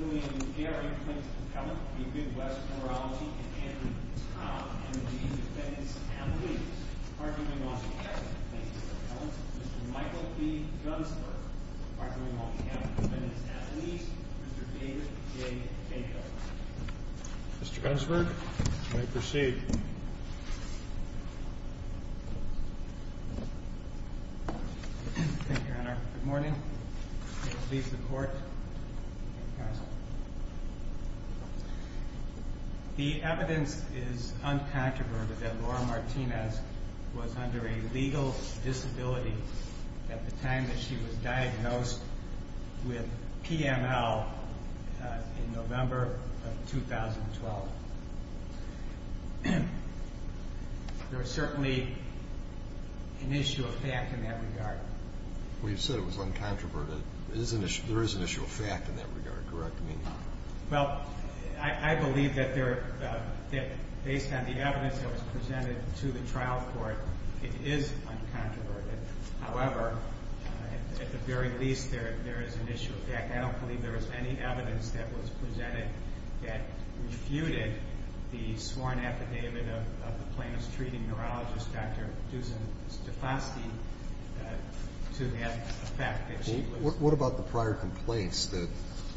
William Gary, Plaintiff Appellant, the Midwest Penalty, and Andrew Towne, M&T Defendant's Athletes, arguing on behalf of the Plaintiff's Appellant, Mr. Michael B. Gunsberg, arguing on behalf of the Defendant's Athletes, Mr. David J. Canco. Mr. Gunsberg, you may proceed. Thank you, Your Honor. Good morning. Please leave the court. The evidence is uncontroverted that Laura Martinez was under a legal disability at the time that she was diagnosed with PML in November of 2012. There is certainly an issue of fact in that regard. We've said it was uncontroverted. There is an issue of fact in that regard, correct me if I'm wrong. Well, I believe that based on the evidence that was presented to the trial court, it is uncontroverted. However, at the very least, there is an issue of fact. I don't believe there is any evidence that was presented that refuted the sworn affidavit of the plaintiff's treating neurologist, Dr. Dusan Stefanski, to that effect. What about the prior complaints that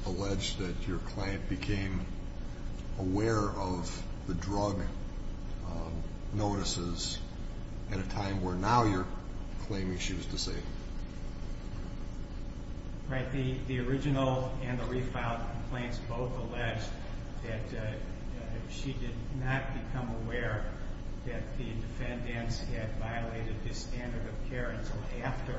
alleged that your client became aware of the drug notices at a time where now you're claiming she was disabled? Right. The original and the refiled complaints both alleged that she did not become aware that the defendants had violated the standard of care until after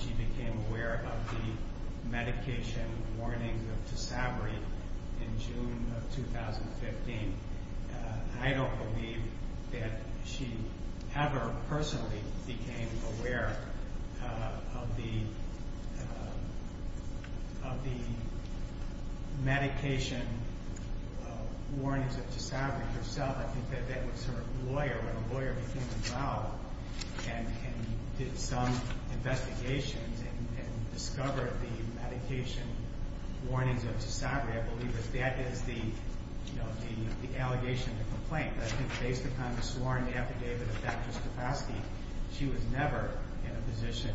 she became aware of the medication warning of Tysabri in June of 2015. I don't believe that she ever personally became aware of the medication warnings of Tysabri herself. I think that that was her lawyer, when a lawyer became involved and did some investigations and discovered the medication warnings of Tysabri, I believe that that is the allegation of the complaint. I think based upon the sworn affidavit of Dr. Stefanski, she was never in a position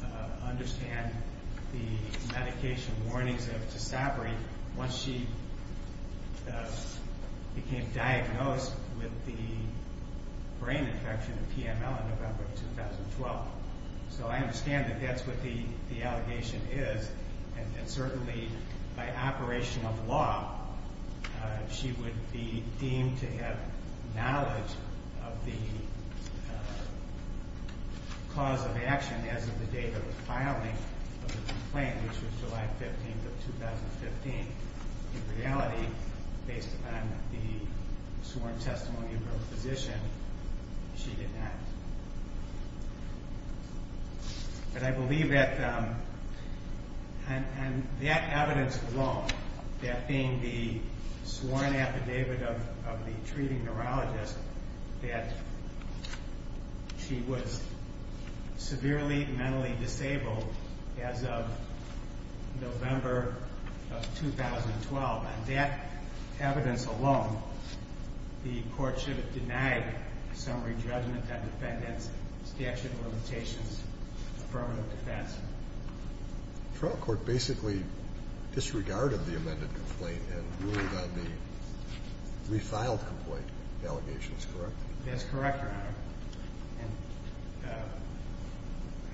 to understand the medication warnings of Tysabri once she became diagnosed with the brain infection of PML in November of 2012. So I understand that that's what the allegation is, and certainly by operation of law, she would be deemed to have knowledge of the cause of action as of the date of the filing of the complaint, which was July 15th of 2015. In reality, based upon the sworn testimony of her physician, she did not. But I believe that, and that evidence alone, that being the sworn affidavit of the treating neurologist, that she was severely mentally disabled as of November of 2012, on that evidence alone, the court should have denied a summary judgment on defendant's statute of limitations, affirmative defense. The trial court basically disregarded the amended complaint and ruled on the refiled complaint allegations, correct? That's correct, Your Honor. And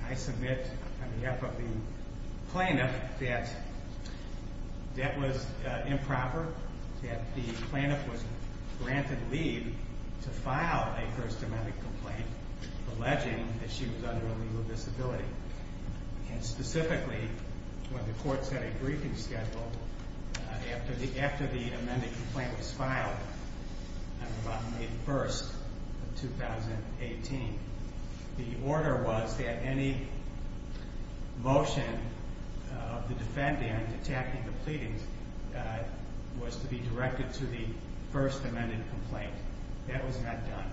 I submit on behalf of the plaintiff that that was improper, that the plaintiff was granted leave to file a first amendment complaint alleging that she was under a legal disability. And specifically, when the court set a briefing schedule after the amended complaint was filed on May 1st of 2018, the order was that any motion of the defendant attacking the pleadings was to be directed to the first amended complaint. That was not done.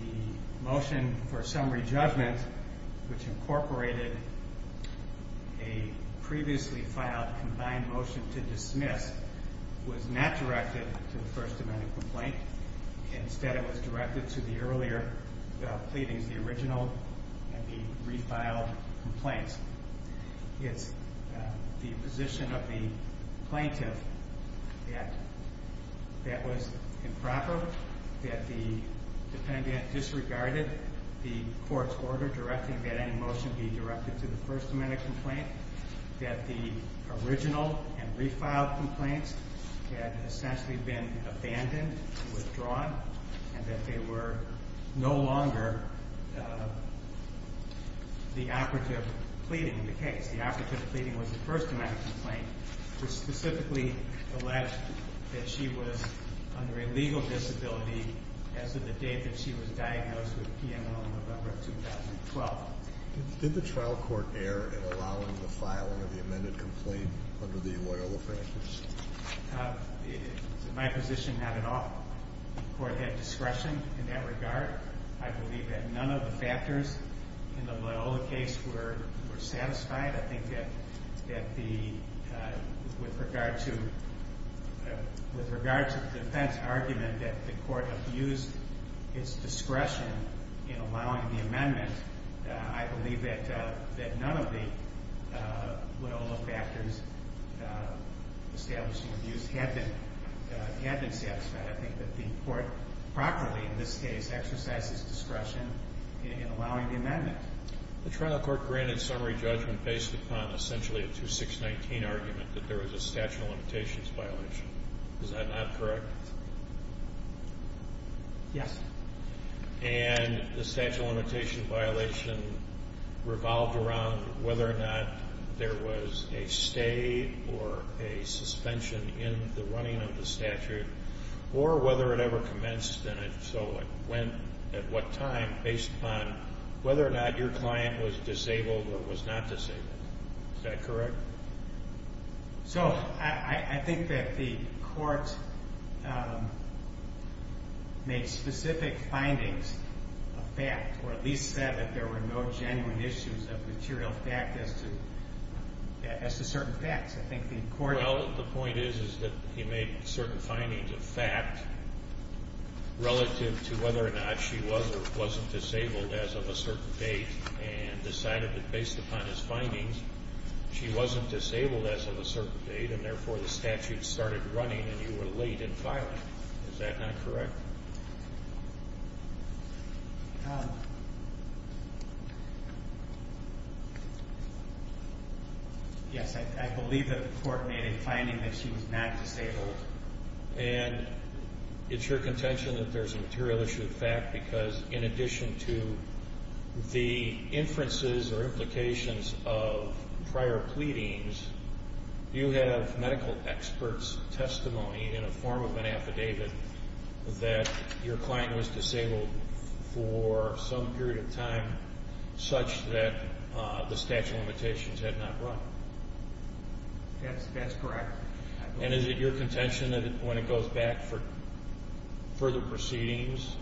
The motion for summary judgment, which incorporated a previously filed combined motion to dismiss, was not directed to the first amended complaint. Instead, it was directed to the earlier pleadings, the original and the refiled complaints. It's the position of the plaintiff that that was improper, that the defendant disregarded the court's order directing that any motion be directed to the first amended complaint, that the original and refiled complaints had essentially been abandoned, withdrawn, and that they were no longer the operative pleading in the case. The operative pleading was the first amended complaint to specifically allege that she was under a legal disability as of the date that she was diagnosed with PMO in November of 2012. Did the trial court err in allowing the filing of the amended complaint under the Loyola practice? My position, not at all. The court had discretion in that regard. I believe that none of the factors in the Loyola case were satisfied. I think that with regard to the defense argument that the court abused its discretion in allowing the amendment, I believe that none of the Loyola factors establishing abuse had been satisfied. I think that the court properly, in this case, exercised its discretion in allowing the amendment. The trial court granted summary judgment based upon essentially a 2619 argument that there was a statute of limitations violation. Is that not correct? Yes. And the statute of limitations violation revolved around whether or not there was a stay or a suspension in the running of the statute, or whether it ever commenced. And so it went at what time based upon whether or not your client was disabled or was not disabled. Is that correct? So I think that the court made specific findings of fact, or at least said that there were no genuine issues of material fact as to certain facts. Well, the point is that he made certain findings of fact relative to whether or not she was or wasn't disabled as of a certain date, and decided that based upon his findings, she wasn't disabled as of a certain date, and therefore the statute started running and you were late in filing. Is that not correct? Yes, I believe that the court made a finding that she was not disabled. And it's your contention that there's a material issue of fact because in addition to the inferences or implications of prior pleadings, you have medical experts' testimony in a form of an affidavit that your client was disabled for some period of time such that the statute of limitations had not run. That's correct. And is it your contention that when it goes back for further proceedings,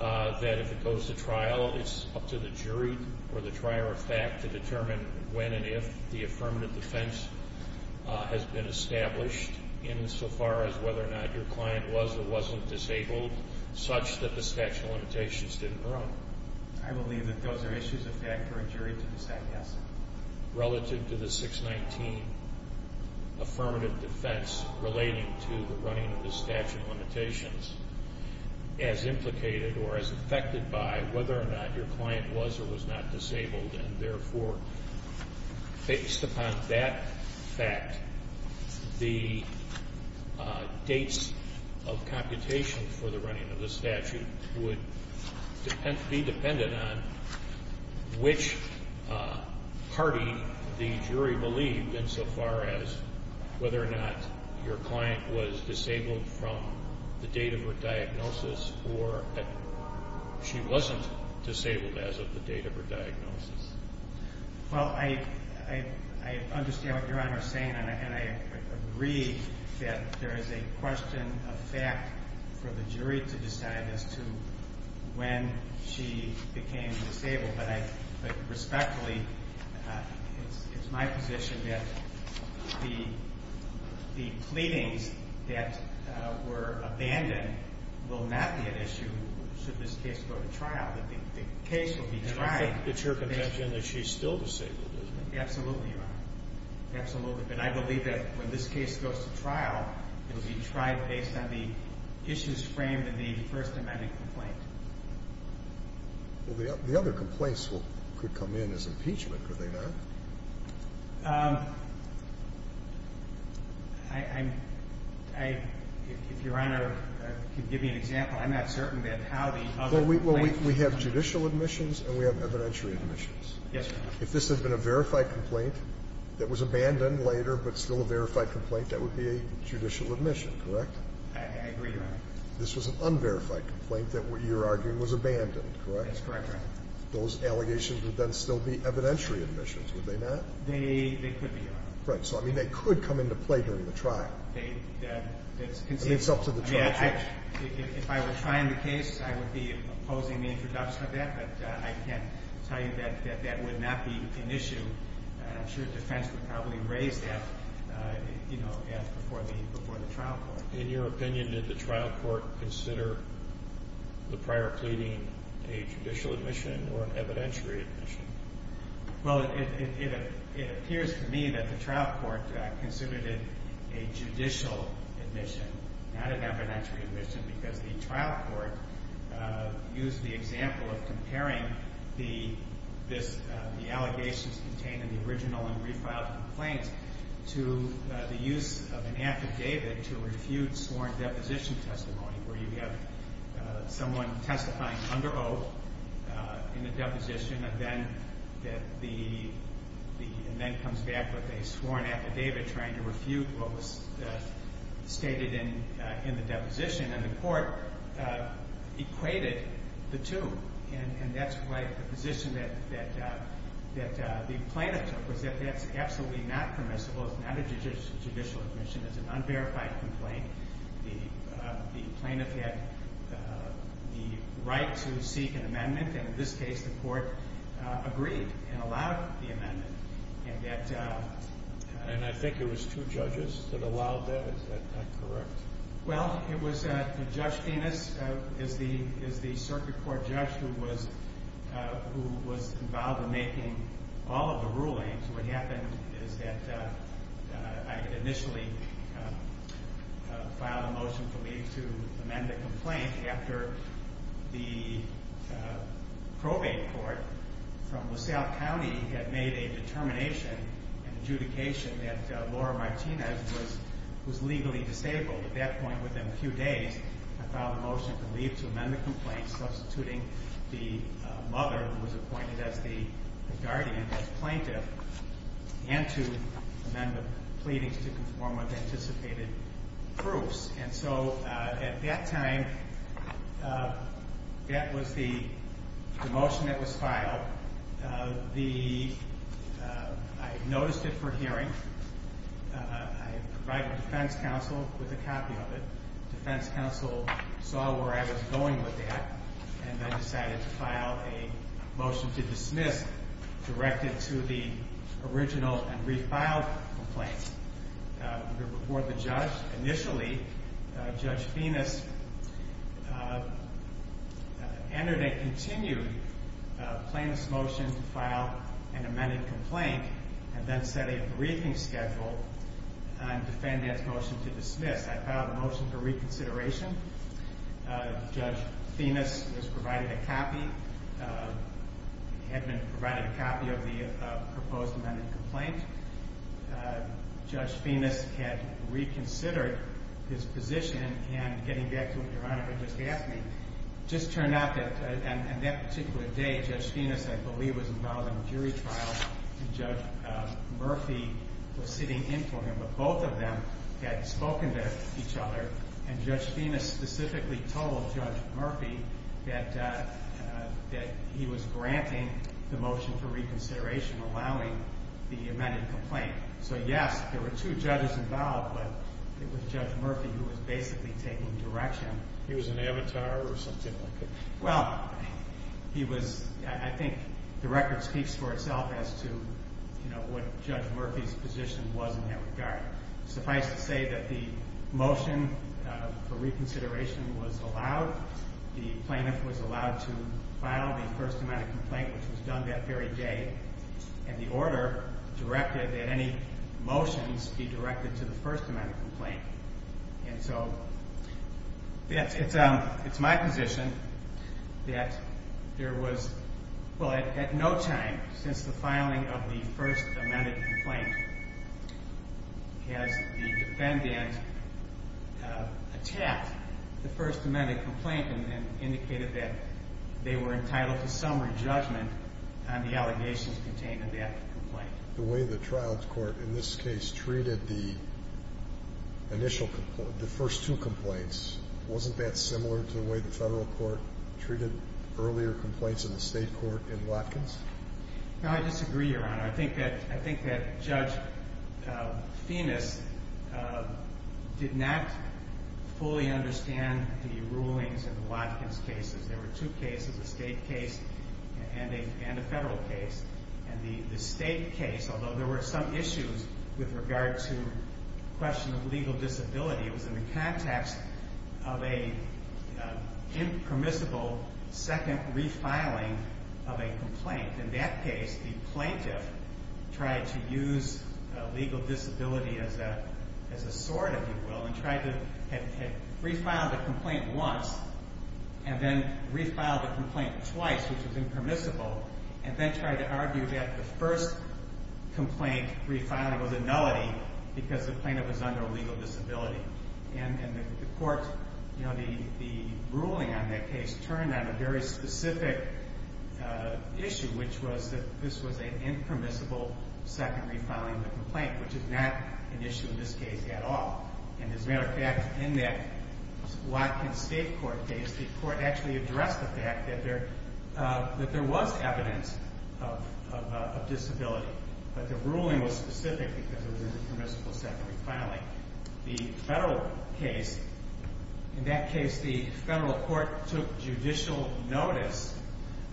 that if it goes to trial, it's up to the jury or the trier of fact to determine when and if the affirmative defense has been established insofar as whether or not your client was or wasn't disabled such that the statute of limitations didn't run? I believe that those are issues of fact for a jury to decide, yes. Relative to the 619 affirmative defense relating to the running of the statute of limitations, as implicated or as affected by whether or not your client was or was not disabled. And therefore, based upon that fact, the dates of computation for the running of the statute would be dependent on which party the jury believed insofar as whether or not your client was disabled from the date of her diagnosis or she wasn't disabled as of the date of her diagnosis. Well, I understand what Your Honor is saying, and I agree that there is a question of fact for the jury to decide as to when she became disabled. But respectfully, it's my position that the pleadings that were abandoned will not be an issue should this case go to trial. The case will be tried. And I think it's your conviction that she's still disabled, isn't it? Absolutely, Your Honor. Absolutely. And I believe that when this case goes to trial, it will be tried based on the issues framed in the First Amendment complaint. Well, the other complaints could come in as impeachment, could they not? If Your Honor can give me an example, I'm not certain that how the other complaints… Well, we have judicial admissions and we have evidentiary admissions. Yes, Your Honor. If this had been a verified complaint that was abandoned later but still a verified complaint, that would be a judicial admission, correct? I agree, Your Honor. If this was an unverified complaint that you're arguing was abandoned, correct? That's correct, Your Honor. Those allegations would then still be evidentiary admissions, would they not? They could be, Your Honor. Right. So, I mean, they could come into play during the trial. That's conceivable. I mean, it's up to the trial judge. If I were trying the case, I would be opposing the introduction of that, but I can tell you that that would not be an issue. I'm sure defense would probably raise that before the trial court. In your opinion, did the trial court consider the prior pleading a judicial admission or an evidentiary admission? Well, it appears to me that the trial court considered it a judicial admission, not an evidentiary admission, because the trial court used the example of comparing the allegations contained in the original and refiled complaints to the use of an affidavit to refute sworn deposition testimony where you have someone testifying under oath in a deposition and then comes back with a sworn affidavit trying to refute what was stated in the deposition. And the court equated the two. And that's why the position that the plaintiff took was that that's absolutely not permissible. It's not a judicial admission. It's an unverified complaint. The plaintiff had the right to seek an amendment, and in this case the court agreed and allowed the amendment. And I think there was two judges that allowed that. Is that correct? Well, it was Judge Venus is the circuit court judge who was involved in making all of the rulings. What happened is that I had initially filed a motion for leave to amend the complaint after the probate court from LaSalle County had made a determination and adjudication that Laura Martinez was legally disabled. At that point within a few days, I filed a motion for leave to amend the complaint, substituting the mother who was appointed as the guardian as plaintiff, and to amend the pleadings to conform with anticipated proofs. And so at that time, that was the motion that was filed. I noticed it for hearing. I provided defense counsel with a copy of it. Defense counsel saw where I was going with that and then decided to file a motion to dismiss directed to the original and refiled complaint. I'm going to report the judge. Initially, Judge Venus entered a continued plaintiff's motion to file an amended complaint and then set a briefing schedule and defendant's motion to dismiss. I filed a motion for reconsideration. Judge Venus was provided a copy, had been provided a copy of the proposed amended complaint. Judge Venus had reconsidered his position, and getting back to what Your Honor had just asked me, it just turned out that on that particular day, Judge Venus, I believe, was involved in a jury trial and Judge Murphy was sitting in for him, but both of them had spoken to each other, and Judge Venus specifically told Judge Murphy that he was granting the motion for reconsideration, allowing the amended complaint. So, yes, there were two judges involved, but it was Judge Murphy who was basically taking direction. He was an avatar or something like that? Well, I think the record speaks for itself as to what Judge Murphy's position was in that regard. Suffice to say that the motion for reconsideration was allowed. The plaintiff was allowed to file the first amended complaint, which was done that very day, and the order directed that any motions be directed to the first amended complaint. And so it's my position that there was, well, at no time since the filing of the first amended complaint has the defendant attacked the first amended complaint and indicated that they were entitled to summary judgment on the allegations contained in that complaint. The way the trials court in this case treated the first two complaints, wasn't that similar to the way the federal court treated earlier complaints in the state court in Watkins? No, I disagree, Your Honor. I think that Judge Venus did not fully understand the rulings in the Watkins cases. There were two cases, a state case and a federal case, and the state case, although there were some issues with regard to the question of legal disability, was in the context of an impermissible second refiling of a complaint. In that case, the plaintiff tried to use legal disability as a sword, if you will, and tried to refile the complaint once and then refile the complaint twice, which was impermissible, and then tried to argue that the first complaint refiling was a nullity because the plaintiff was under a legal disability. And the court, you know, the ruling on that case turned on a very specific issue, which was that this was an impermissible second refiling of the complaint, which is not an issue in this case at all. And as a matter of fact, in that Watkins state court case, the court actually addressed the fact that there was evidence of disability, but the ruling was specific because it was an impermissible second refiling. The federal case, in that case the federal court took judicial notice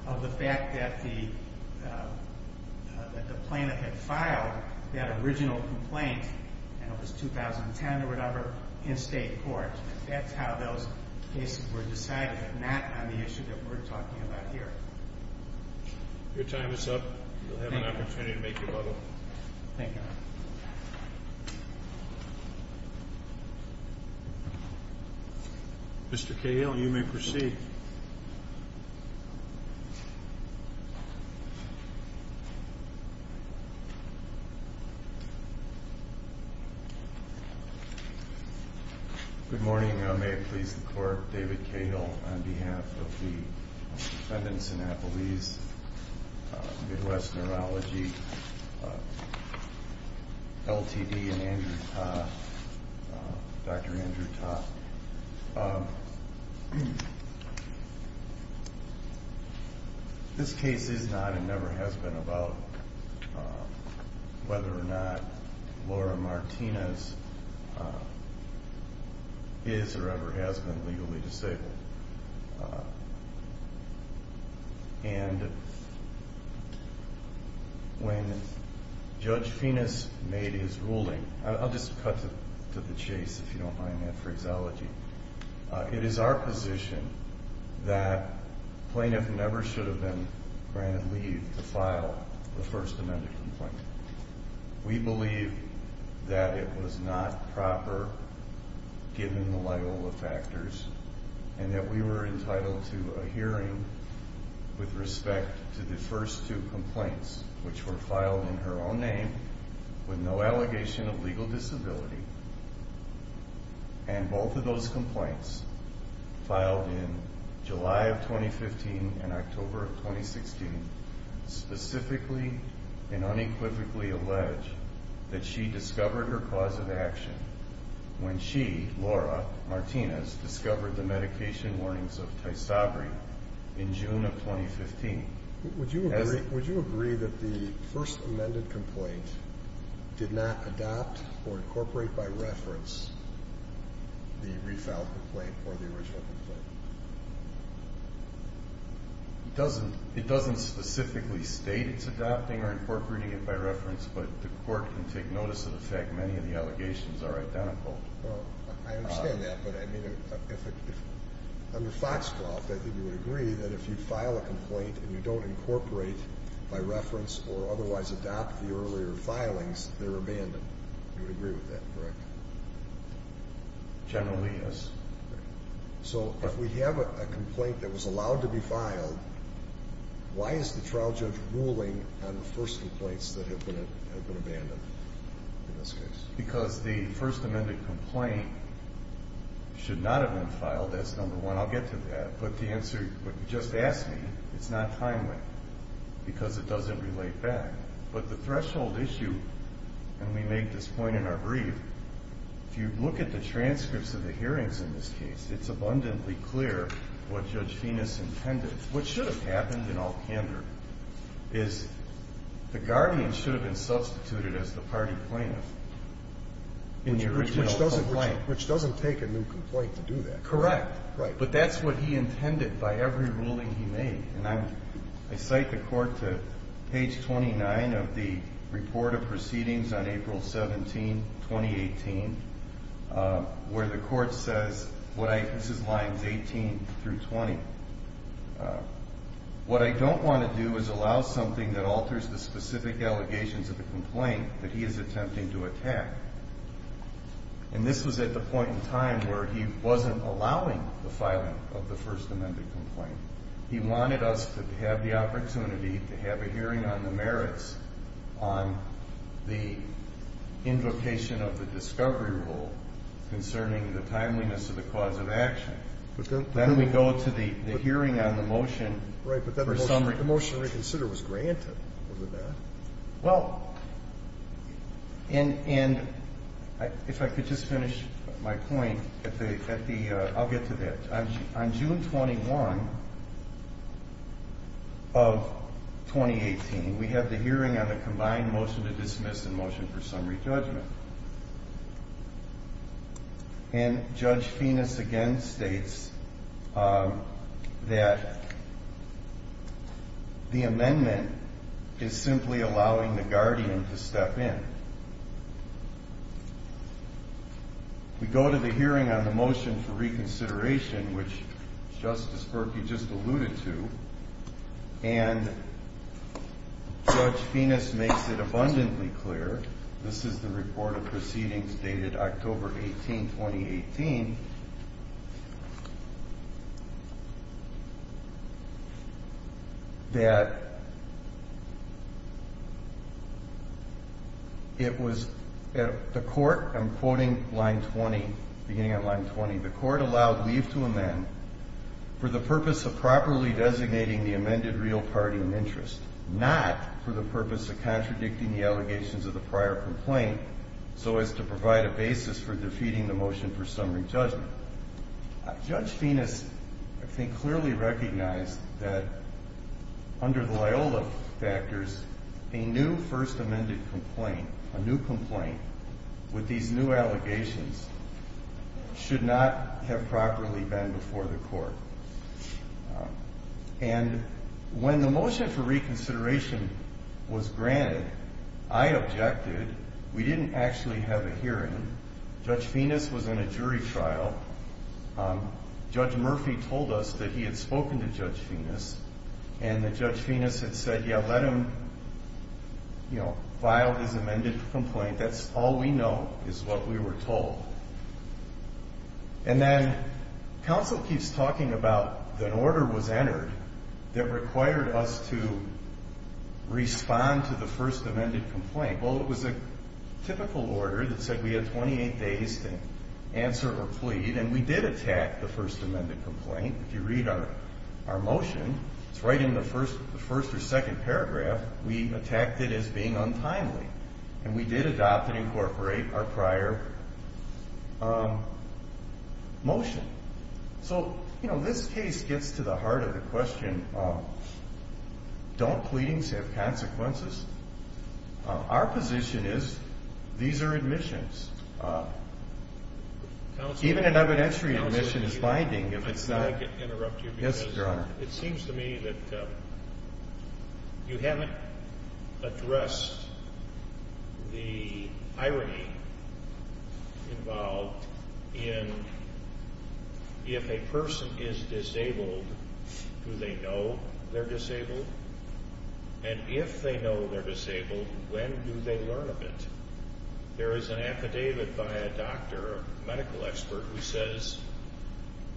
of the fact that the plaintiff had filed that original complaint, and it was 2010 or whatever, in state court. That's how those cases were decided, not on the issue that we're talking about here. Your time is up. You'll have an opportunity to make your bubble. Thank you. Mr. Cahill, you may proceed. Thank you. Good morning. May it please the court, David Cahill on behalf of the defendants in Appalese, Midwest Neurology, LTD, and Dr. Andrew Ta. This case is not and never has been about whether or not Laura Martinez is or ever has been legally disabled. And when Judge Finis made his ruling, I'll just cut to the chase if you don't mind my phraseology. It is our position that the plaintiff never should have been granted leave to file the First Amendment complaint. We believe that it was not proper, given the Loyola factors, and that we were entitled to a hearing with respect to the first two complaints, which were filed in her own name with no allegation of legal disability. And both of those complaints, filed in July of 2015 and October of 2016, specifically and unequivocally allege that she discovered her cause of action when she, Laura Martinez, discovered the medication warnings of Tysabri in June of 2015. Would you agree that the First Amendment complaint did not adopt or incorporate by reference the refiled complaint or the original complaint? It doesn't specifically state it's adopting or incorporating it by reference, but the court can take notice of the fact that many of the allegations are identical. I understand that, but I mean, under Foxcloth, I think you would agree that if you file a complaint and you don't incorporate by reference or otherwise adopt the earlier filings, they're abandoned. You would agree with that, correct? Generally, yes. So if we have a complaint that was allowed to be filed, why is the trial judge ruling on the first complaints that have been abandoned in this case? Because the First Amendment complaint should not have been filed. That's number one. I'll get to that. But the answer, what you just asked me, it's not timely because it doesn't relate back. But the threshold issue, and we make this point in our brief, if you look at the transcripts of the hearings in this case, it's abundantly clear what Judge Venus intended. What should have happened in all candor is the guardian should have been substituted as the party plaintiff in the original complaint. Which doesn't take a new complaint to do that. Correct. Right. But that's what he intended by every ruling he made. And I cite the court to page 29 of the report of proceedings on April 17, 2018, where the court says, this is lines 18 through 20, what I don't want to do is allow something that alters the specific allegations of the complaint that he is attempting to attack. And this was at the point in time where he wasn't allowing the filing of the First Amendment complaint. He wanted us to have the opportunity to have a hearing on the merits, on the invocation of the discovery rule concerning the timeliness of the cause of action. Then we go to the hearing on the motion. Right, but the motion to reconsider was granted, wasn't it? Well, and if I could just finish my point at the, I'll get to that. On June 21 of 2018, we have the hearing on the combined motion to dismiss and motion for summary judgment. And Judge Finis again states that the amendment is simply allowing the guardian to step in. We go to the hearing on the motion for reconsideration, which Justice Berkey just alluded to, and Judge Finis makes it abundantly clear, this is the report of proceedings dated October 18, 2018, that it was at the court, I'm quoting line 20, beginning on line 20, the court allowed leave to amend for the purpose of properly designating the amended real party in interest, not for the purpose of contradicting the allegations of the prior complaint so as to provide a basis for defeating the motion for summary judgment. Judge Finis, I think, clearly recognized that under the Loyola factors, a new first amended complaint, a new complaint with these new allegations should not have properly been before the court. And when the motion for reconsideration was granted, I objected. We didn't actually have a hearing. Judge Finis was in a jury trial. Judge Murphy told us that he had spoken to Judge Finis and that Judge Finis had said, yeah, let him, you know, file his amended complaint. That's all we know is what we were told. And then counsel keeps talking about an order was entered that required us to respond to the first amended complaint. Well, it was a typical order that said we had 28 days to answer or plead, and we did attack the first amended complaint. If you read our motion, it's right in the first or second paragraph. We attacked it as being untimely. And we did adopt and incorporate our prior motion. So, you know, this case gets to the heart of the question, don't pleadings have consequences? Our position is these are admissions. Even an evidentiary admission is binding if it's not. Yes, Your Honor. It seems to me that you haven't addressed the irony involved in if a person is disabled, do they know they're disabled? And if they know they're disabled, when do they learn of it? There is an affidavit by a doctor, a medical expert, who says,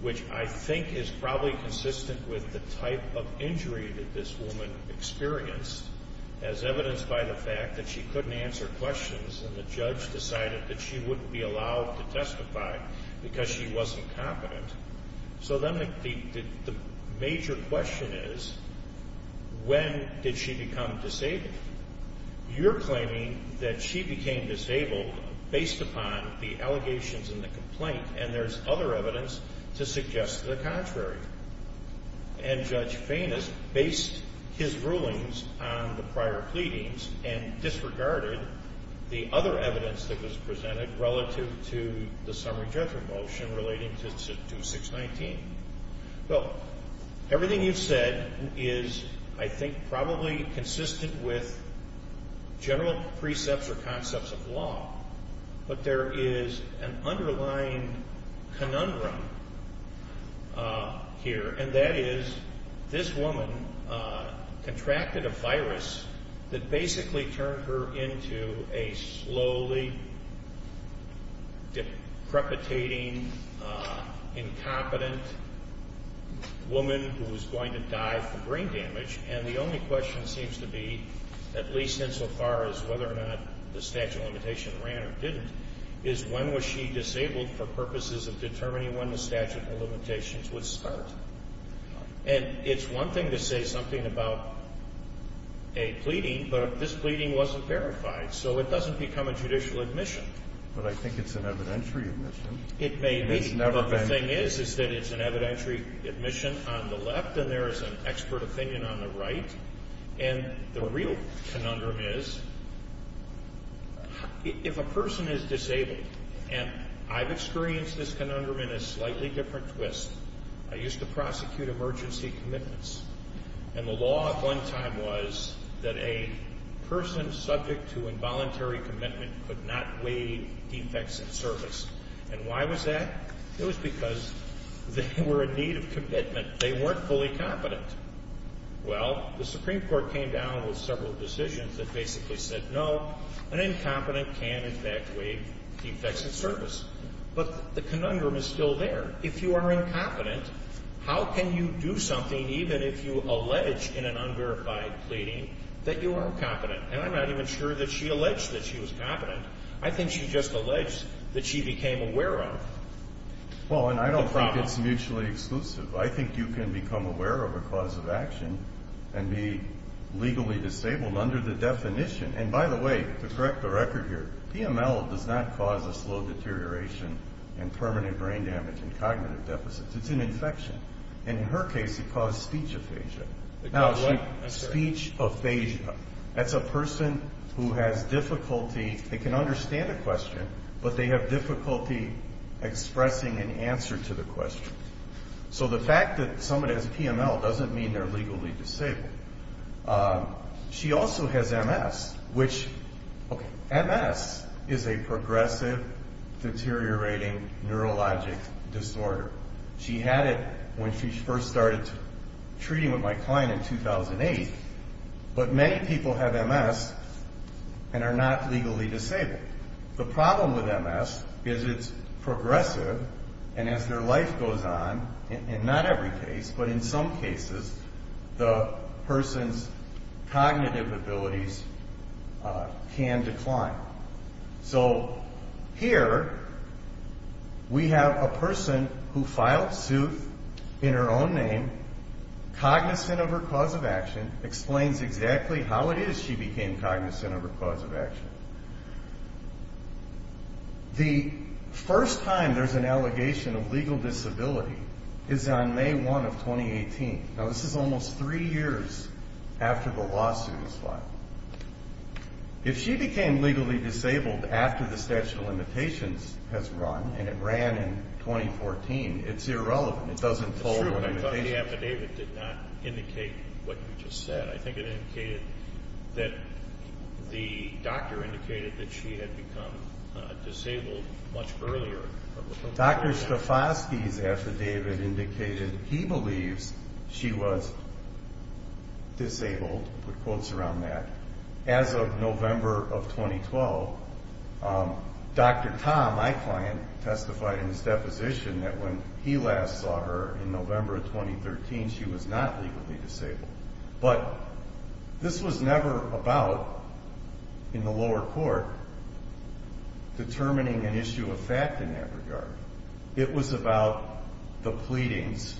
which I think is probably consistent with the type of injury that this woman experienced, as evidenced by the fact that she couldn't answer questions, and the judge decided that she wouldn't be allowed to testify because she wasn't competent. So then the major question is, when did she become disabled? You're claiming that she became disabled based upon the allegations in the complaint, and there's other evidence to suggest the contrary. And Judge Fainest based his rulings on the prior pleadings and disregarded the other evidence that was presented relative to the summary judgment motion relating to 619. Well, everything you've said is, I think, probably consistent with general precepts or concepts of law, but there is an underlying conundrum here, and that is this woman contracted a virus that basically turned her into a slowly, deprecating, incompetent woman who was going to die from brain damage, and the only question seems to be, at least insofar as whether or not the statute of limitations ran or didn't, is when was she disabled for purposes of determining when the statute of limitations would start? And it's one thing to say something about a pleading, but if this pleading wasn't verified, so it doesn't become a judicial admission. But I think it's an evidentiary admission. It may be, but the thing is, is that it's an evidentiary admission on the left, and there is an expert opinion on the right. And the real conundrum is, if a person is disabled, and I've experienced this conundrum in a slightly different twist. I used to prosecute emergency commitments, and the law at one time was that a person subject to involuntary commitment could not waive defects in service. And why was that? It was because they were in need of commitment. They weren't fully competent. Well, the Supreme Court came down with several decisions that basically said no, an incompetent can, in fact, waive defects in service. But the conundrum is still there. If you are incompetent, how can you do something, even if you allege in an unverified pleading that you are incompetent? And I'm not even sure that she alleged that she was competent. I think she just alleged that she became aware of the problem. Well, and I don't think it's mutually exclusive. I think you can become aware of a cause of action and be legally disabled under the definition. And, by the way, to correct the record here, PML does not cause a slow deterioration and permanent brain damage and cognitive deficits. It's an infection. And in her case, it caused speech aphasia. It caused what? Speech aphasia. That's a person who has difficulty. They can understand a question, but they have difficulty expressing an answer to the question. So the fact that somebody has PML doesn't mean they're legally disabled. She also has MS, which, okay, MS is a progressive, deteriorating neurologic disorder. She had it when she first started treating with my client in 2008. But many people have MS and are not legally disabled. Okay, the problem with MS is it's progressive, and as their life goes on, and not every case, but in some cases, the person's cognitive abilities can decline. So here we have a person who filed suit in her own name, cognizant of her cause of action, and explains exactly how it is she became cognizant of her cause of action. The first time there's an allegation of legal disability is on May 1 of 2018. Now, this is almost three years after the lawsuit was filed. If she became legally disabled after the statute of limitations has run, and it ran in 2014, it's irrelevant. It's true, but I thought the affidavit did not indicate what you just said. I think it indicated that the doctor indicated that she had become disabled much earlier. Dr. Stefosky's affidavit indicated he believes she was disabled, put quotes around that. As of November of 2012, Dr. Tom, my client, testified in his deposition that when he last saw her in November of 2013, she was not legally disabled. But this was never about, in the lower court, determining an issue of fact in that regard. It was about the pleadings,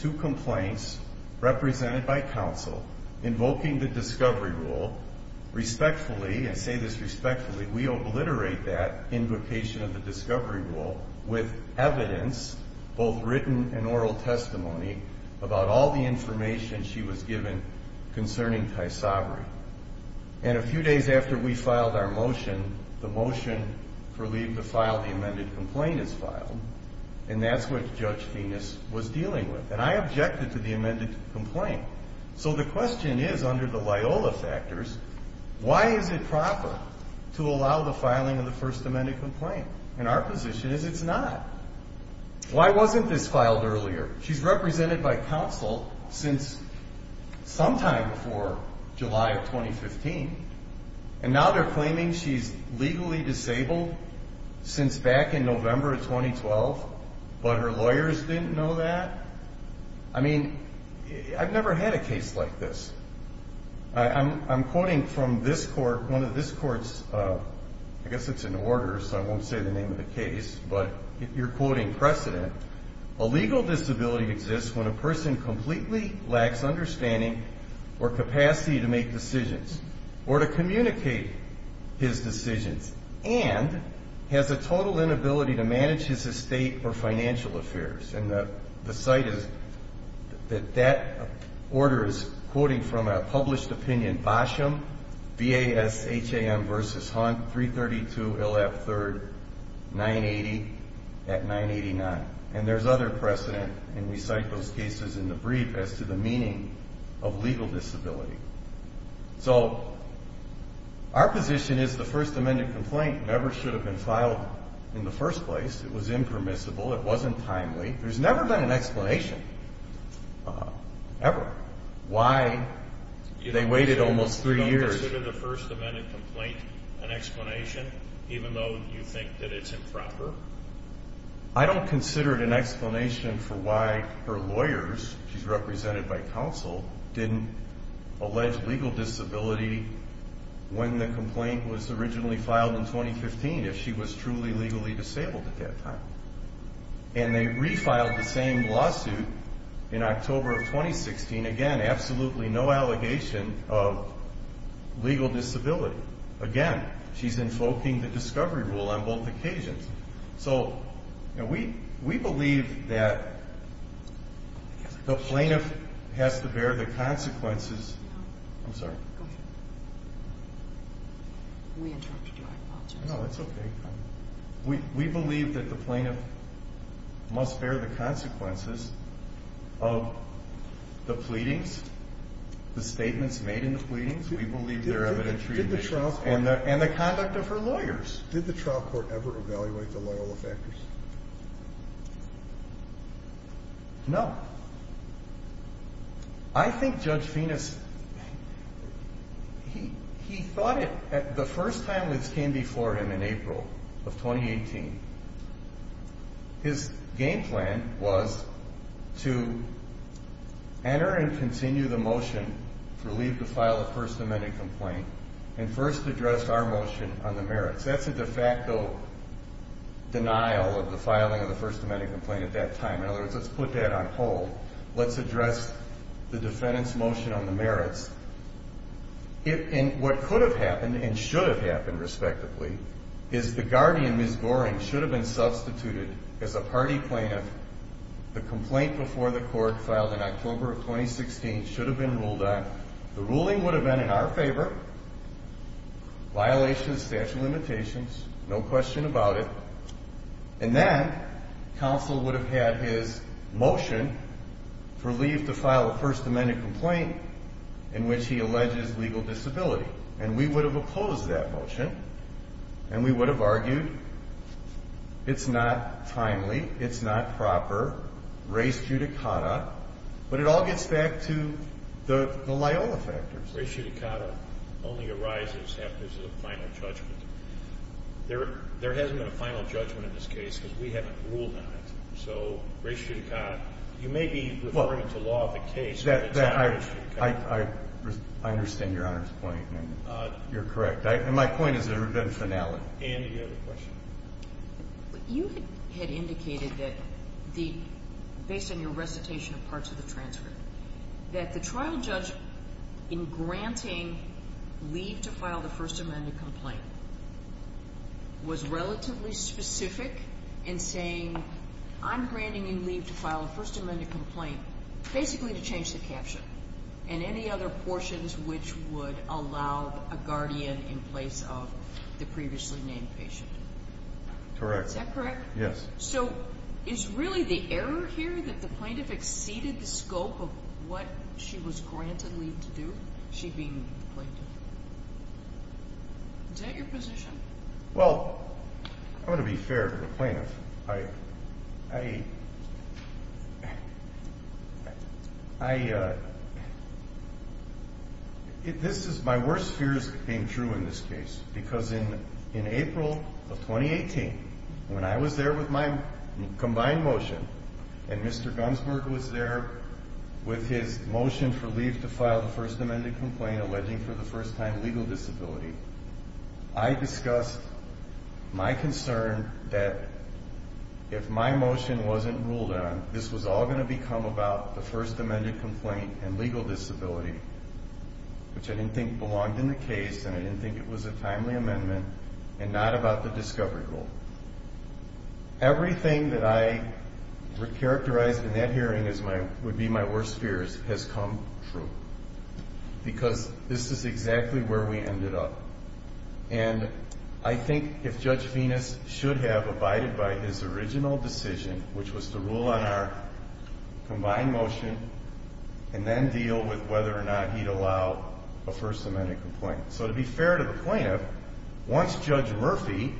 two complaints, represented by counsel, invoking the discovery rule. Respectfully, and say this respectfully, we obliterate that invocation of the discovery rule with evidence, both written and oral testimony, about all the information she was given concerning Tysabri. And a few days after we filed our motion, the motion for leave to file the amended complaint is filed, and that's what Judge Finis was dealing with. And I objected to the amended complaint. So the question is, under the Loyola factors, why is it proper to allow the filing of the first amended complaint? And our position is it's not. Why wasn't this filed earlier? She's represented by counsel since sometime before July of 2015, and now they're claiming she's legally disabled since back in November of 2012, but her lawyers didn't know that? I mean, I've never had a case like this. I'm quoting from this court, one of this court's, I guess it's an order so I won't say the name of the case, but you're quoting precedent, a legal disability exists when a person completely lacks understanding or capacity to make decisions or to communicate his decisions and has a total inability to manage his estate or financial affairs. And the cite is that that order is quoting from a published opinion, BASHAM, B-A-S-H-A-M versus Hunt, 332 L.F. 3rd, 980 at 989. And there's other precedent, and we cite those cases in the brief as to the meaning of legal disability. So our position is the first amended complaint never should have been filed in the first place. It was impermissible. It wasn't timely. There's never been an explanation ever why they waited almost three years. You don't consider the first amended complaint an explanation, even though you think that it's improper? I don't consider it an explanation for why her lawyers, she's represented by counsel, didn't allege legal disability when the complaint was originally filed in 2015, if she was truly legally disabled at that time. And they refiled the same lawsuit in October of 2016. Again, absolutely no allegation of legal disability. Again, she's invoking the discovery rule on both occasions. So, you know, we believe that the plaintiff has to bear the consequences. I'm sorry. Go ahead. We interrupted you. I apologize. No, that's okay. We believe that the plaintiff must bear the consequences of the pleadings, the statements made in the pleadings. We believe there are evident treatment issues and the conduct of her lawyers. Did the trial court ever evaluate the Loyola factors? No. I think Judge Fenis, he thought it, the first time this came before him in April of 2018, his game plan was to enter and continue the motion to relieve the file of first amended complaint and first address our motion on the merits. That's a de facto denial of the filing of the first amended complaint at that time. In other words, let's put that on hold. Let's address the defendant's motion on the merits. And what could have happened and should have happened, respectively, is the guardian, Ms. Goring, should have been substituted as a party plaintiff. The complaint before the court filed in October of 2016 should have been ruled on. The ruling would have been in our favor, violations of statute of limitations, no question about it. And then counsel would have had his motion to relieve the file of first amended complaint in which he alleges legal disability. And we would have opposed that motion and we would have argued it's not timely, it's not proper, res judicata, but it all gets back to the Loyola factors. Res judicata only arises after there's a final judgment. There hasn't been a final judgment in this case because we haven't ruled on it. So res judicata, you may be referring to law of the case, but it's not res judicata. I understand Your Honor's point and you're correct. And my point is there has been finality. Andy, you had a question. You had indicated that the, based on your recitation of parts of the transcript, that the trial judge in granting leave to file the first amended complaint was relatively specific in saying I'm granting you leave to file the first amended complaint basically to change the caption and any other portions which would allow a guardian in place of the previously named patient. Correct. Is that correct? Yes. So is really the error here that the plaintiff exceeded the scope of what she was granted leave to do, she being the plaintiff? Is that your position? Well, I'm going to be fair to the plaintiff. I, I, I, this is my worst fears being true in this case because in April of 2018, when I was there with my combined motion and Mr. Gunsberg was there with his motion for leave to file the first amended complaint alleging for the first time legal disability, I discussed my concern that if my motion wasn't ruled on, this was all going to become about the first amended complaint and legal disability, which I didn't think belonged in the case and I didn't think it was a timely amendment and not about the discovery rule. Everything that I characterized in that hearing as my, would be my worst fears has come true because this is exactly where we ended up. And I think if Judge Venus should have abided by his original decision, which was to rule on our combined motion and then deal with whether or not he'd allow a first amended complaint. So to be fair to the plaintiff, once Judge Murphy,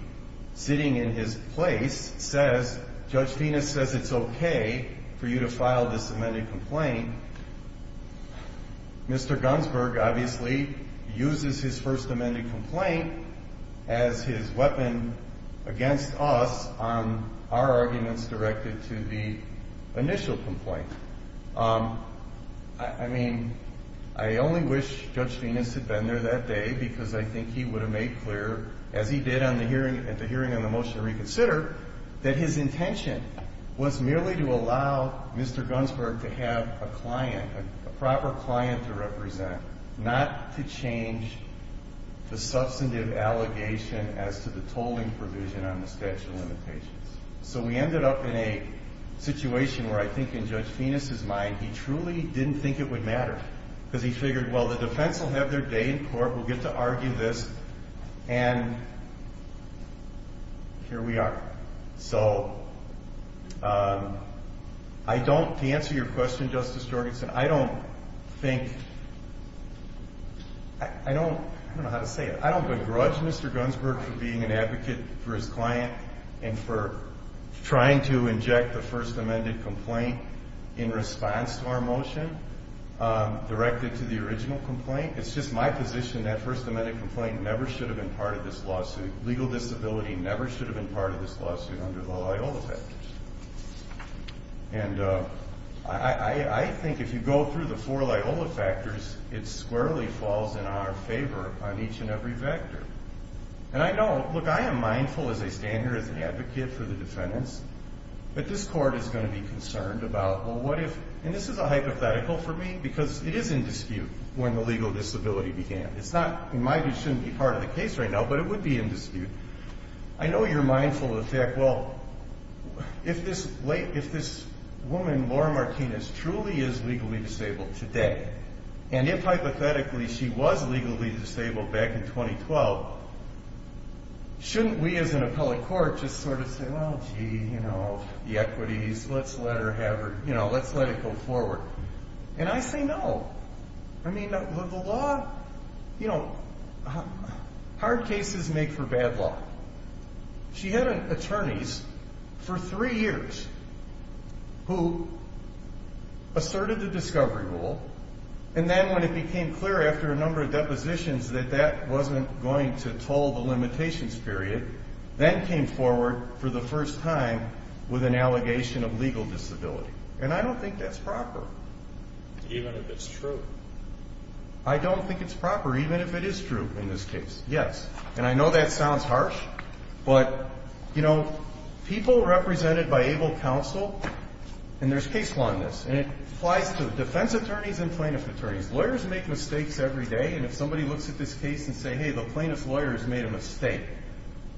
sitting in his place, says, Judge Venus says it's okay for you to file this amended complaint. Mr. Gunsberg obviously uses his first amended complaint as his weapon against us on our arguments directed to the initial complaint. I mean, I only wish Judge Venus had been there that day because I think he would have made clear, as he did at the hearing on the motion to reconsider, that his intention was merely to allow Mr. Gunsberg to have a client, a proper client to represent, not to change the substantive allegation as to the tolling provision on the statute of limitations. So we ended up in a situation where I think in Judge Venus's mind, he truly didn't think it would matter because he figured, well, the defense will have their day in court. We'll get to argue this, and here we are. So to answer your question, Justice Jorgensen, I don't think, I don't know how to say it. I don't begrudge Mr. Gunsberg for being an advocate for his client and for trying to inject the first amended complaint in response to our motion directed to the original complaint. It's just my position that first amended complaint never should have been part of this lawsuit. Legal disability never should have been part of this lawsuit under the Loyola factors. And I think if you go through the four Loyola factors, it squarely falls in our favor on each and every vector. And I know, look, I am mindful as I stand here as an advocate for the defendants, that this court is going to be concerned about, well, what if, and this is a hypothetical for me because it is in dispute when the legal disability began. It's not, in my view, shouldn't be part of the case right now, but it would be in dispute. I know you're mindful of the fact, well, if this woman, Laura Martinez, truly is legally disabled today, and if hypothetically she was legally disabled back in 2012, shouldn't we as an appellate court just sort of say, well, gee, you know, the equities, let's let her have her, you know, let's let it go forward. And I say no. I mean, the law, you know, hard cases make for bad law. She had attorneys for three years who asserted the discovery rule, and then when it became clear after a number of depositions that that wasn't going to toll the limitations period, then came forward for the first time with an allegation of legal disability. And I don't think that's proper. Even if it's true? I don't think it's proper, even if it is true in this case, yes. And I know that sounds harsh, but, you know, people represented by able counsel, and there's case law in this, and it applies to defense attorneys and plaintiff attorneys. Lawyers make mistakes every day, and if somebody looks at this case and says, hey, the plaintiff's lawyer has made a mistake,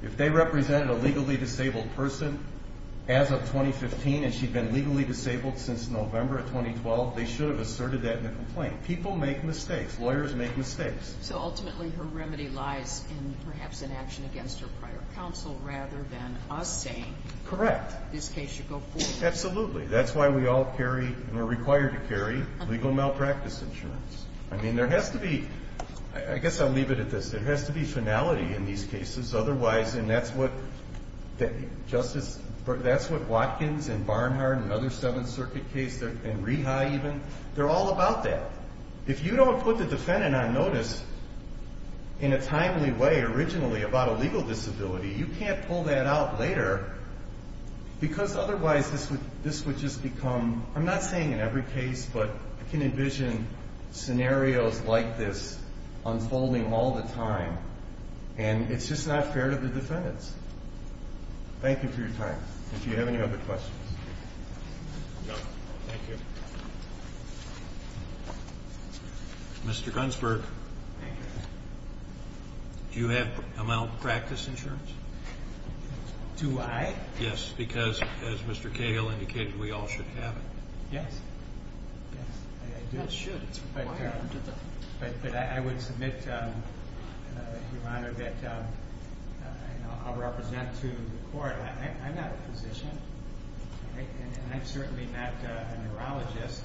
if they represented a legally disabled person as of 2015 and she'd been legally disabled since November of 2012, they should have asserted that in the complaint. People make mistakes. Lawyers make mistakes. So ultimately her remedy lies in perhaps an action against her prior counsel rather than us saying this case should go forward. Correct. Absolutely. That's why we all carry and are required to carry legal malpractice insurance. I mean, there has to be ‑‑ I guess I'll leave it at this. There has to be finality in these cases. Otherwise, and that's what Justice ‑‑ that's what Watkins and Barnhart and other Seventh Circuit cases, and Reha even, they're all about that. If you don't put the defendant on notice in a timely way originally about a legal disability, you can't pull that out later because otherwise this would just become ‑‑ I'm not saying in every case, but I can envision scenarios like this unfolding all the time, and it's just not fair to the defendants. Thank you for your time. If you have any other questions. No. Thank you. Mr. Gunsberg, do you have malpractice insurance? Do I? Yes, because, as Mr. Cahill indicated, we all should have it. Yes. Yes, I do. You should. It's required. But I would submit, Your Honor, that I'll represent to the court. I'm not a physician, and I'm certainly not a neurologist,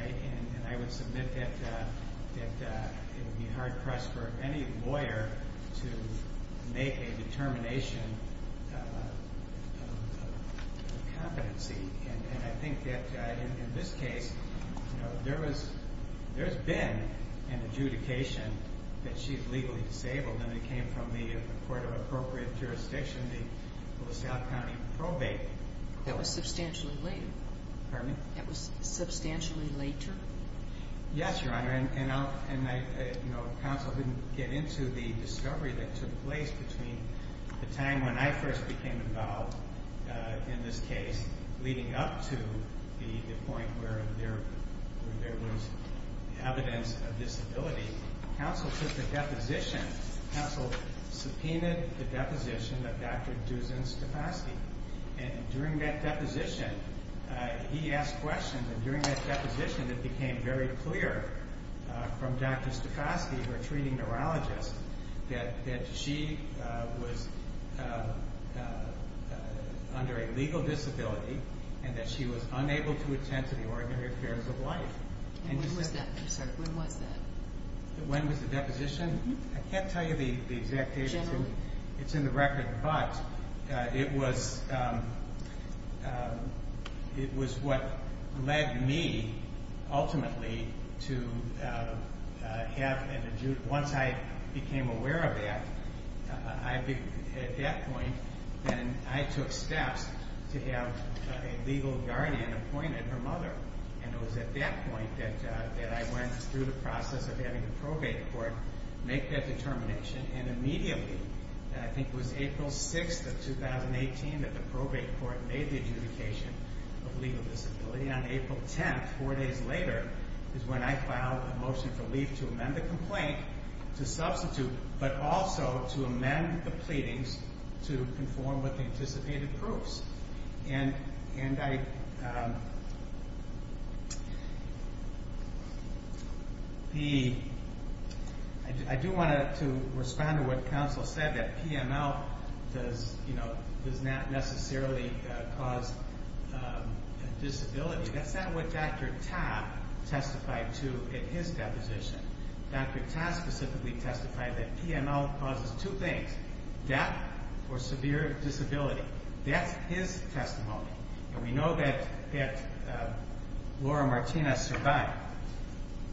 and I would submit that it would be hard press for any lawyer to make a determination of competency, and I think that in this case, there has been an adjudication that she's legally disabled, and it came from the Court of Appropriate Jurisdiction, the LaSalle County probate. That was substantially late. Pardon me? That was substantially later? Yes, Your Honor, and counsel didn't get into the discovery that took place between the time when I first became involved in this case, leading up to the point where there was evidence of disability. Counsel took the deposition. Counsel subpoenaed the deposition of Dr. Dusan Stavosky, and during that deposition, he asked questions, and during that deposition it became very clear from Dr. Stavosky, her treating neurologist, that she was under a legal disability and that she was unable to attend to the ordinary affairs of life. When was that? I'm sorry. When was that? When was the deposition? I can't tell you the exact date. Generally. It's in the record, but it was what led me ultimately to have an adjudication. Once I became aware of that, at that point, then I took steps to have a legal guardian appointed, her mother, and it was at that point that I went through the process of having a probate court, make that determination, and immediately, I think it was April 6th of 2018, that the probate court made the adjudication of legal disability. On April 10th, four days later, is when I filed a motion for leave to amend the complaint, to substitute, but also to amend the pleadings to conform with the anticipated proofs. And I do want to respond to what counsel said, that PML does not necessarily cause disability. That's not what Dr. Ta testified to in his deposition. Dr. Ta specifically testified that PML causes two things, death or severe disability. That's his testimony. And we know that Laura Martinez survived.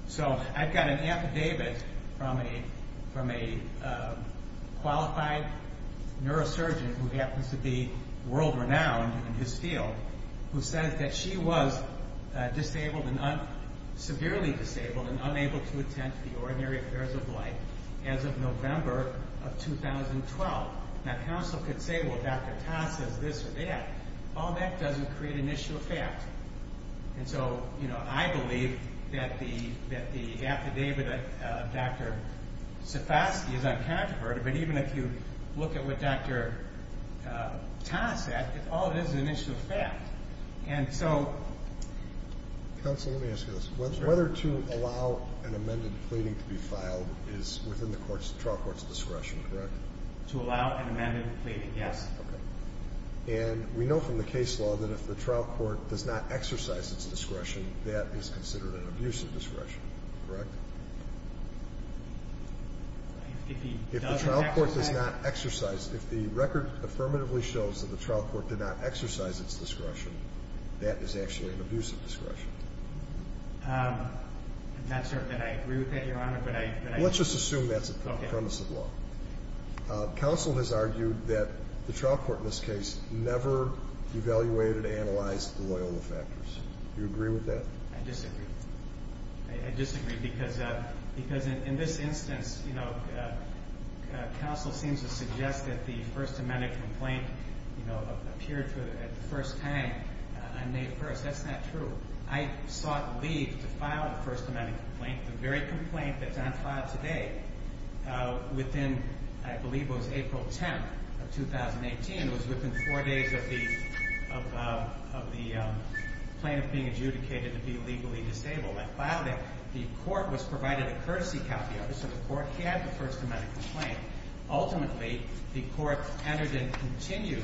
So I've got an affidavit from a qualified neurosurgeon who happens to be world-renowned in his field, who says that she was severely disabled and unable to attend the Ordinary Affairs of Life as of November of 2012. Now, counsel could say, well, Dr. Ta says this or that. All that doesn't create an issue of fact. And so I believe that the affidavit of Dr. Sifosky is uncontroverted, but even if you look at what Dr. Ta said, all it is is an issue of fact. And so... Counsel, let me ask you this. Whether to allow an amended pleading to be filed is within the trial court's discretion, correct? To allow an amended pleading, yes. Okay. And we know from the case law that if the trial court does not exercise its discretion, that is considered an abusive discretion, correct? If he doesn't exercise... If the trial court does not exercise, if the record affirmatively shows that the trial court did not exercise its discretion, that is actually an abusive discretion. I'm not certain that I agree with that, Your Honor, but I... Let's just assume that's the premise of law. Counsel has argued that the trial court in this case never evaluated and analyzed the Loyola factors. Do you agree with that? I disagree. I disagree because in this instance, you know, the First Amendment complaint, you know, appeared for the first time on May 1st. That's not true. I sought leave to file the First Amendment complaint. The very complaint that's on file today, within, I believe it was April 10th of 2018, it was within 4 days of the... of the plaintiff being adjudicated to be legally disabled. I filed it. The court was provided a courtesy copy of it, so the court had the First Amendment complaint. Ultimately, the court entered and continued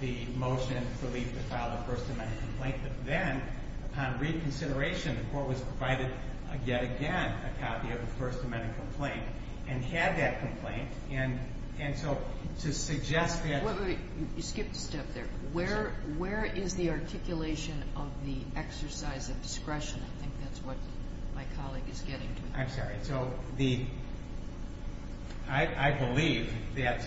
the motion for leave to file the First Amendment complaint, but then, upon reconsideration, the court was provided yet again a copy of the First Amendment complaint and had that complaint, and so to suggest that... Wait, wait, wait. You skipped a step there. Where is the articulation of the exercise of discretion? I think that's what my colleague is getting to. I'm sorry. And so the... I believe that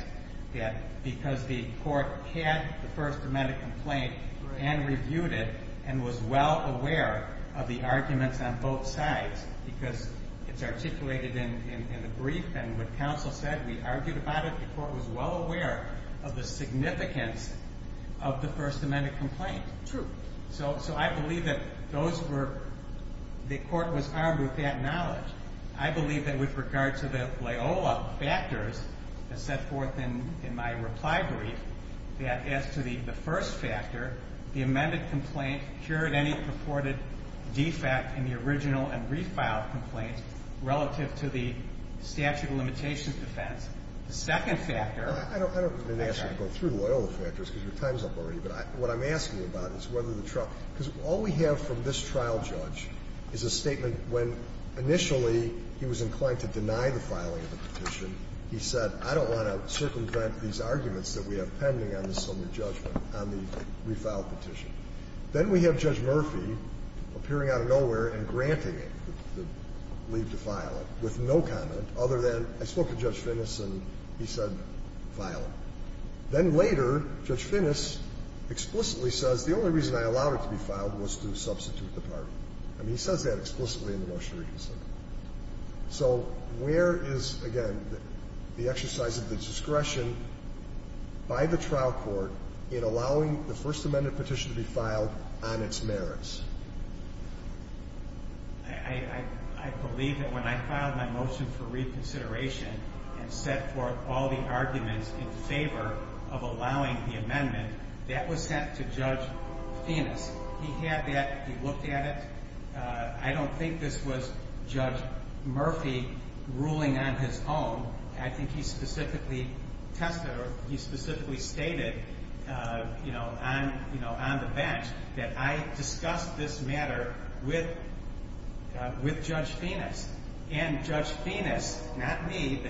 because the court had the First Amendment complaint and reviewed it and was well aware of the arguments on both sides, because it's articulated in the brief, and what counsel said, we argued about it, the court was well aware of the significance of the First Amendment complaint. True. So I believe that those were... I believe that with regard to the Loyola factors that set forth in my reply brief, that as to the first factor, the amended complaint cured any purported defect in the original and refiled complaints relative to the statute of limitations defense. The second factor... I don't mean to ask you to go through the Loyola factors because your time's up already, but what I'm asking you about is whether the trial... Because all we have from this trial judge is a statement when initially he was inclined to deny the filing of the petition. He said, I don't want to circumvent these arguments that we have pending on the Silmer judgment on the refiled petition. Then we have Judge Murphy appearing out of nowhere and granting it, the leave to file it, with no comment other than, I spoke to Judge Finnis and he said, file it. Then later, Judge Finnis explicitly says, the only reason I allowed it to be filed was to substitute the party. I mean, he says that explicitly in the Motion of Regency. So where is, again, the exercise of the discretion by the trial court in allowing the First Amendment petition to be filed on its merits? I believe that when I filed my motion for reconsideration and set forth all the arguments in favor of allowing the amendment, that was sent to Judge Finnis. He had that. He looked at it. I don't think this was Judge Murphy ruling on his own. I think he specifically tested, or he specifically stated on the bench that I discussed this matter with Judge Finnis. And Judge Finnis, not me,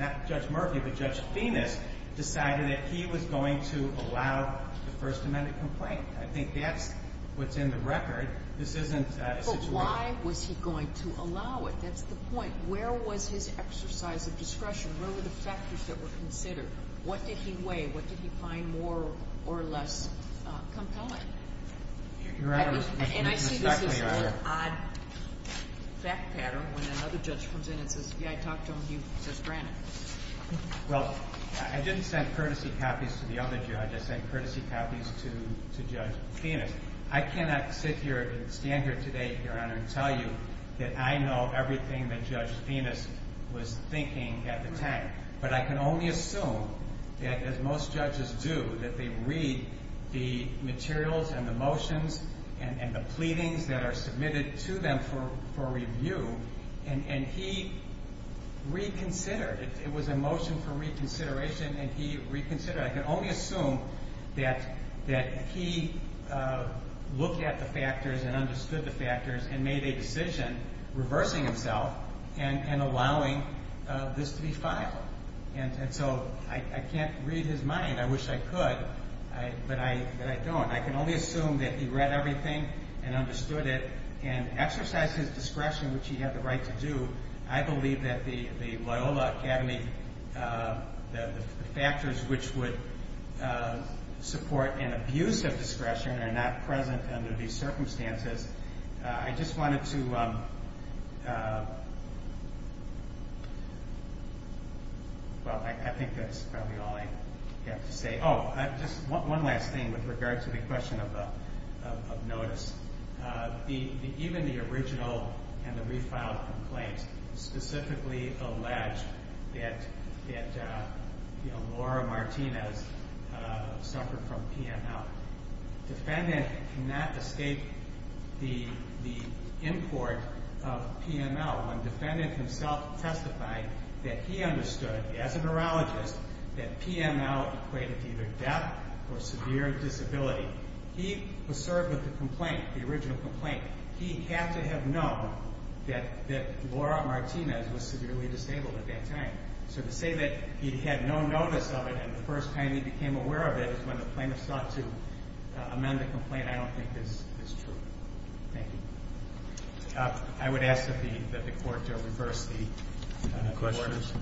not Judge Murphy, but Judge Finnis decided that he was going to allow the First Amendment complaint. I think that's what's in the record. This isn't a situation. But why was he going to allow it? That's the point. Where was his exercise of discretion? What were the factors that were considered? What did he weigh? What did he find more or less compelling? Your Honor, this is not clear either. And I see this as an odd fact pattern when another judge comes in and says, yeah, I talked to him. He says, granted. Well, I didn't send courtesy copies to the other judges. I sent courtesy copies to Judge Finnis. I cannot sit here and stand here today, Your Honor, and tell you that I know everything that Judge Finnis was thinking at the time. But I can only assume that, as most judges do, that they read the materials and the motions and the pleadings that are submitted to them for review. And he reconsidered. It was a motion for reconsideration, and he reconsidered. But I can only assume that he looked at the factors and understood the factors and made a decision, reversing himself and allowing this to be filed. And so I can't read his mind. I wish I could, but I don't. I can only assume that he read everything and understood it and exercised his discretion, which he had the right to do. I believe that the Loyola Academy, the factors which would support an abuse of discretion are not present under these circumstances. I just wanted to... Well, I think that's probably all I have to say. Oh, just one last thing with regard to the question of notice. Even the original and the refiled complaint specifically alleged that Laura Martinez suffered from PML. The defendant cannot escape the import of PML when the defendant himself testified that he understood, as a neurologist, that PML equated to either death or severe disability. He was served with the complaint, the original complaint. He had to have known that Laura Martinez was severely disabled at that time. So to say that he had no notice of it and the first time he became aware of it is when the plaintiff sought to amend the complaint, I don't think is true. Thank you. I would ask that the court reverse the questions.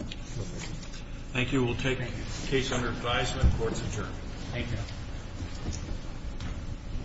Thank you. We'll take the case under advisement. Court's adjourned. Thank you.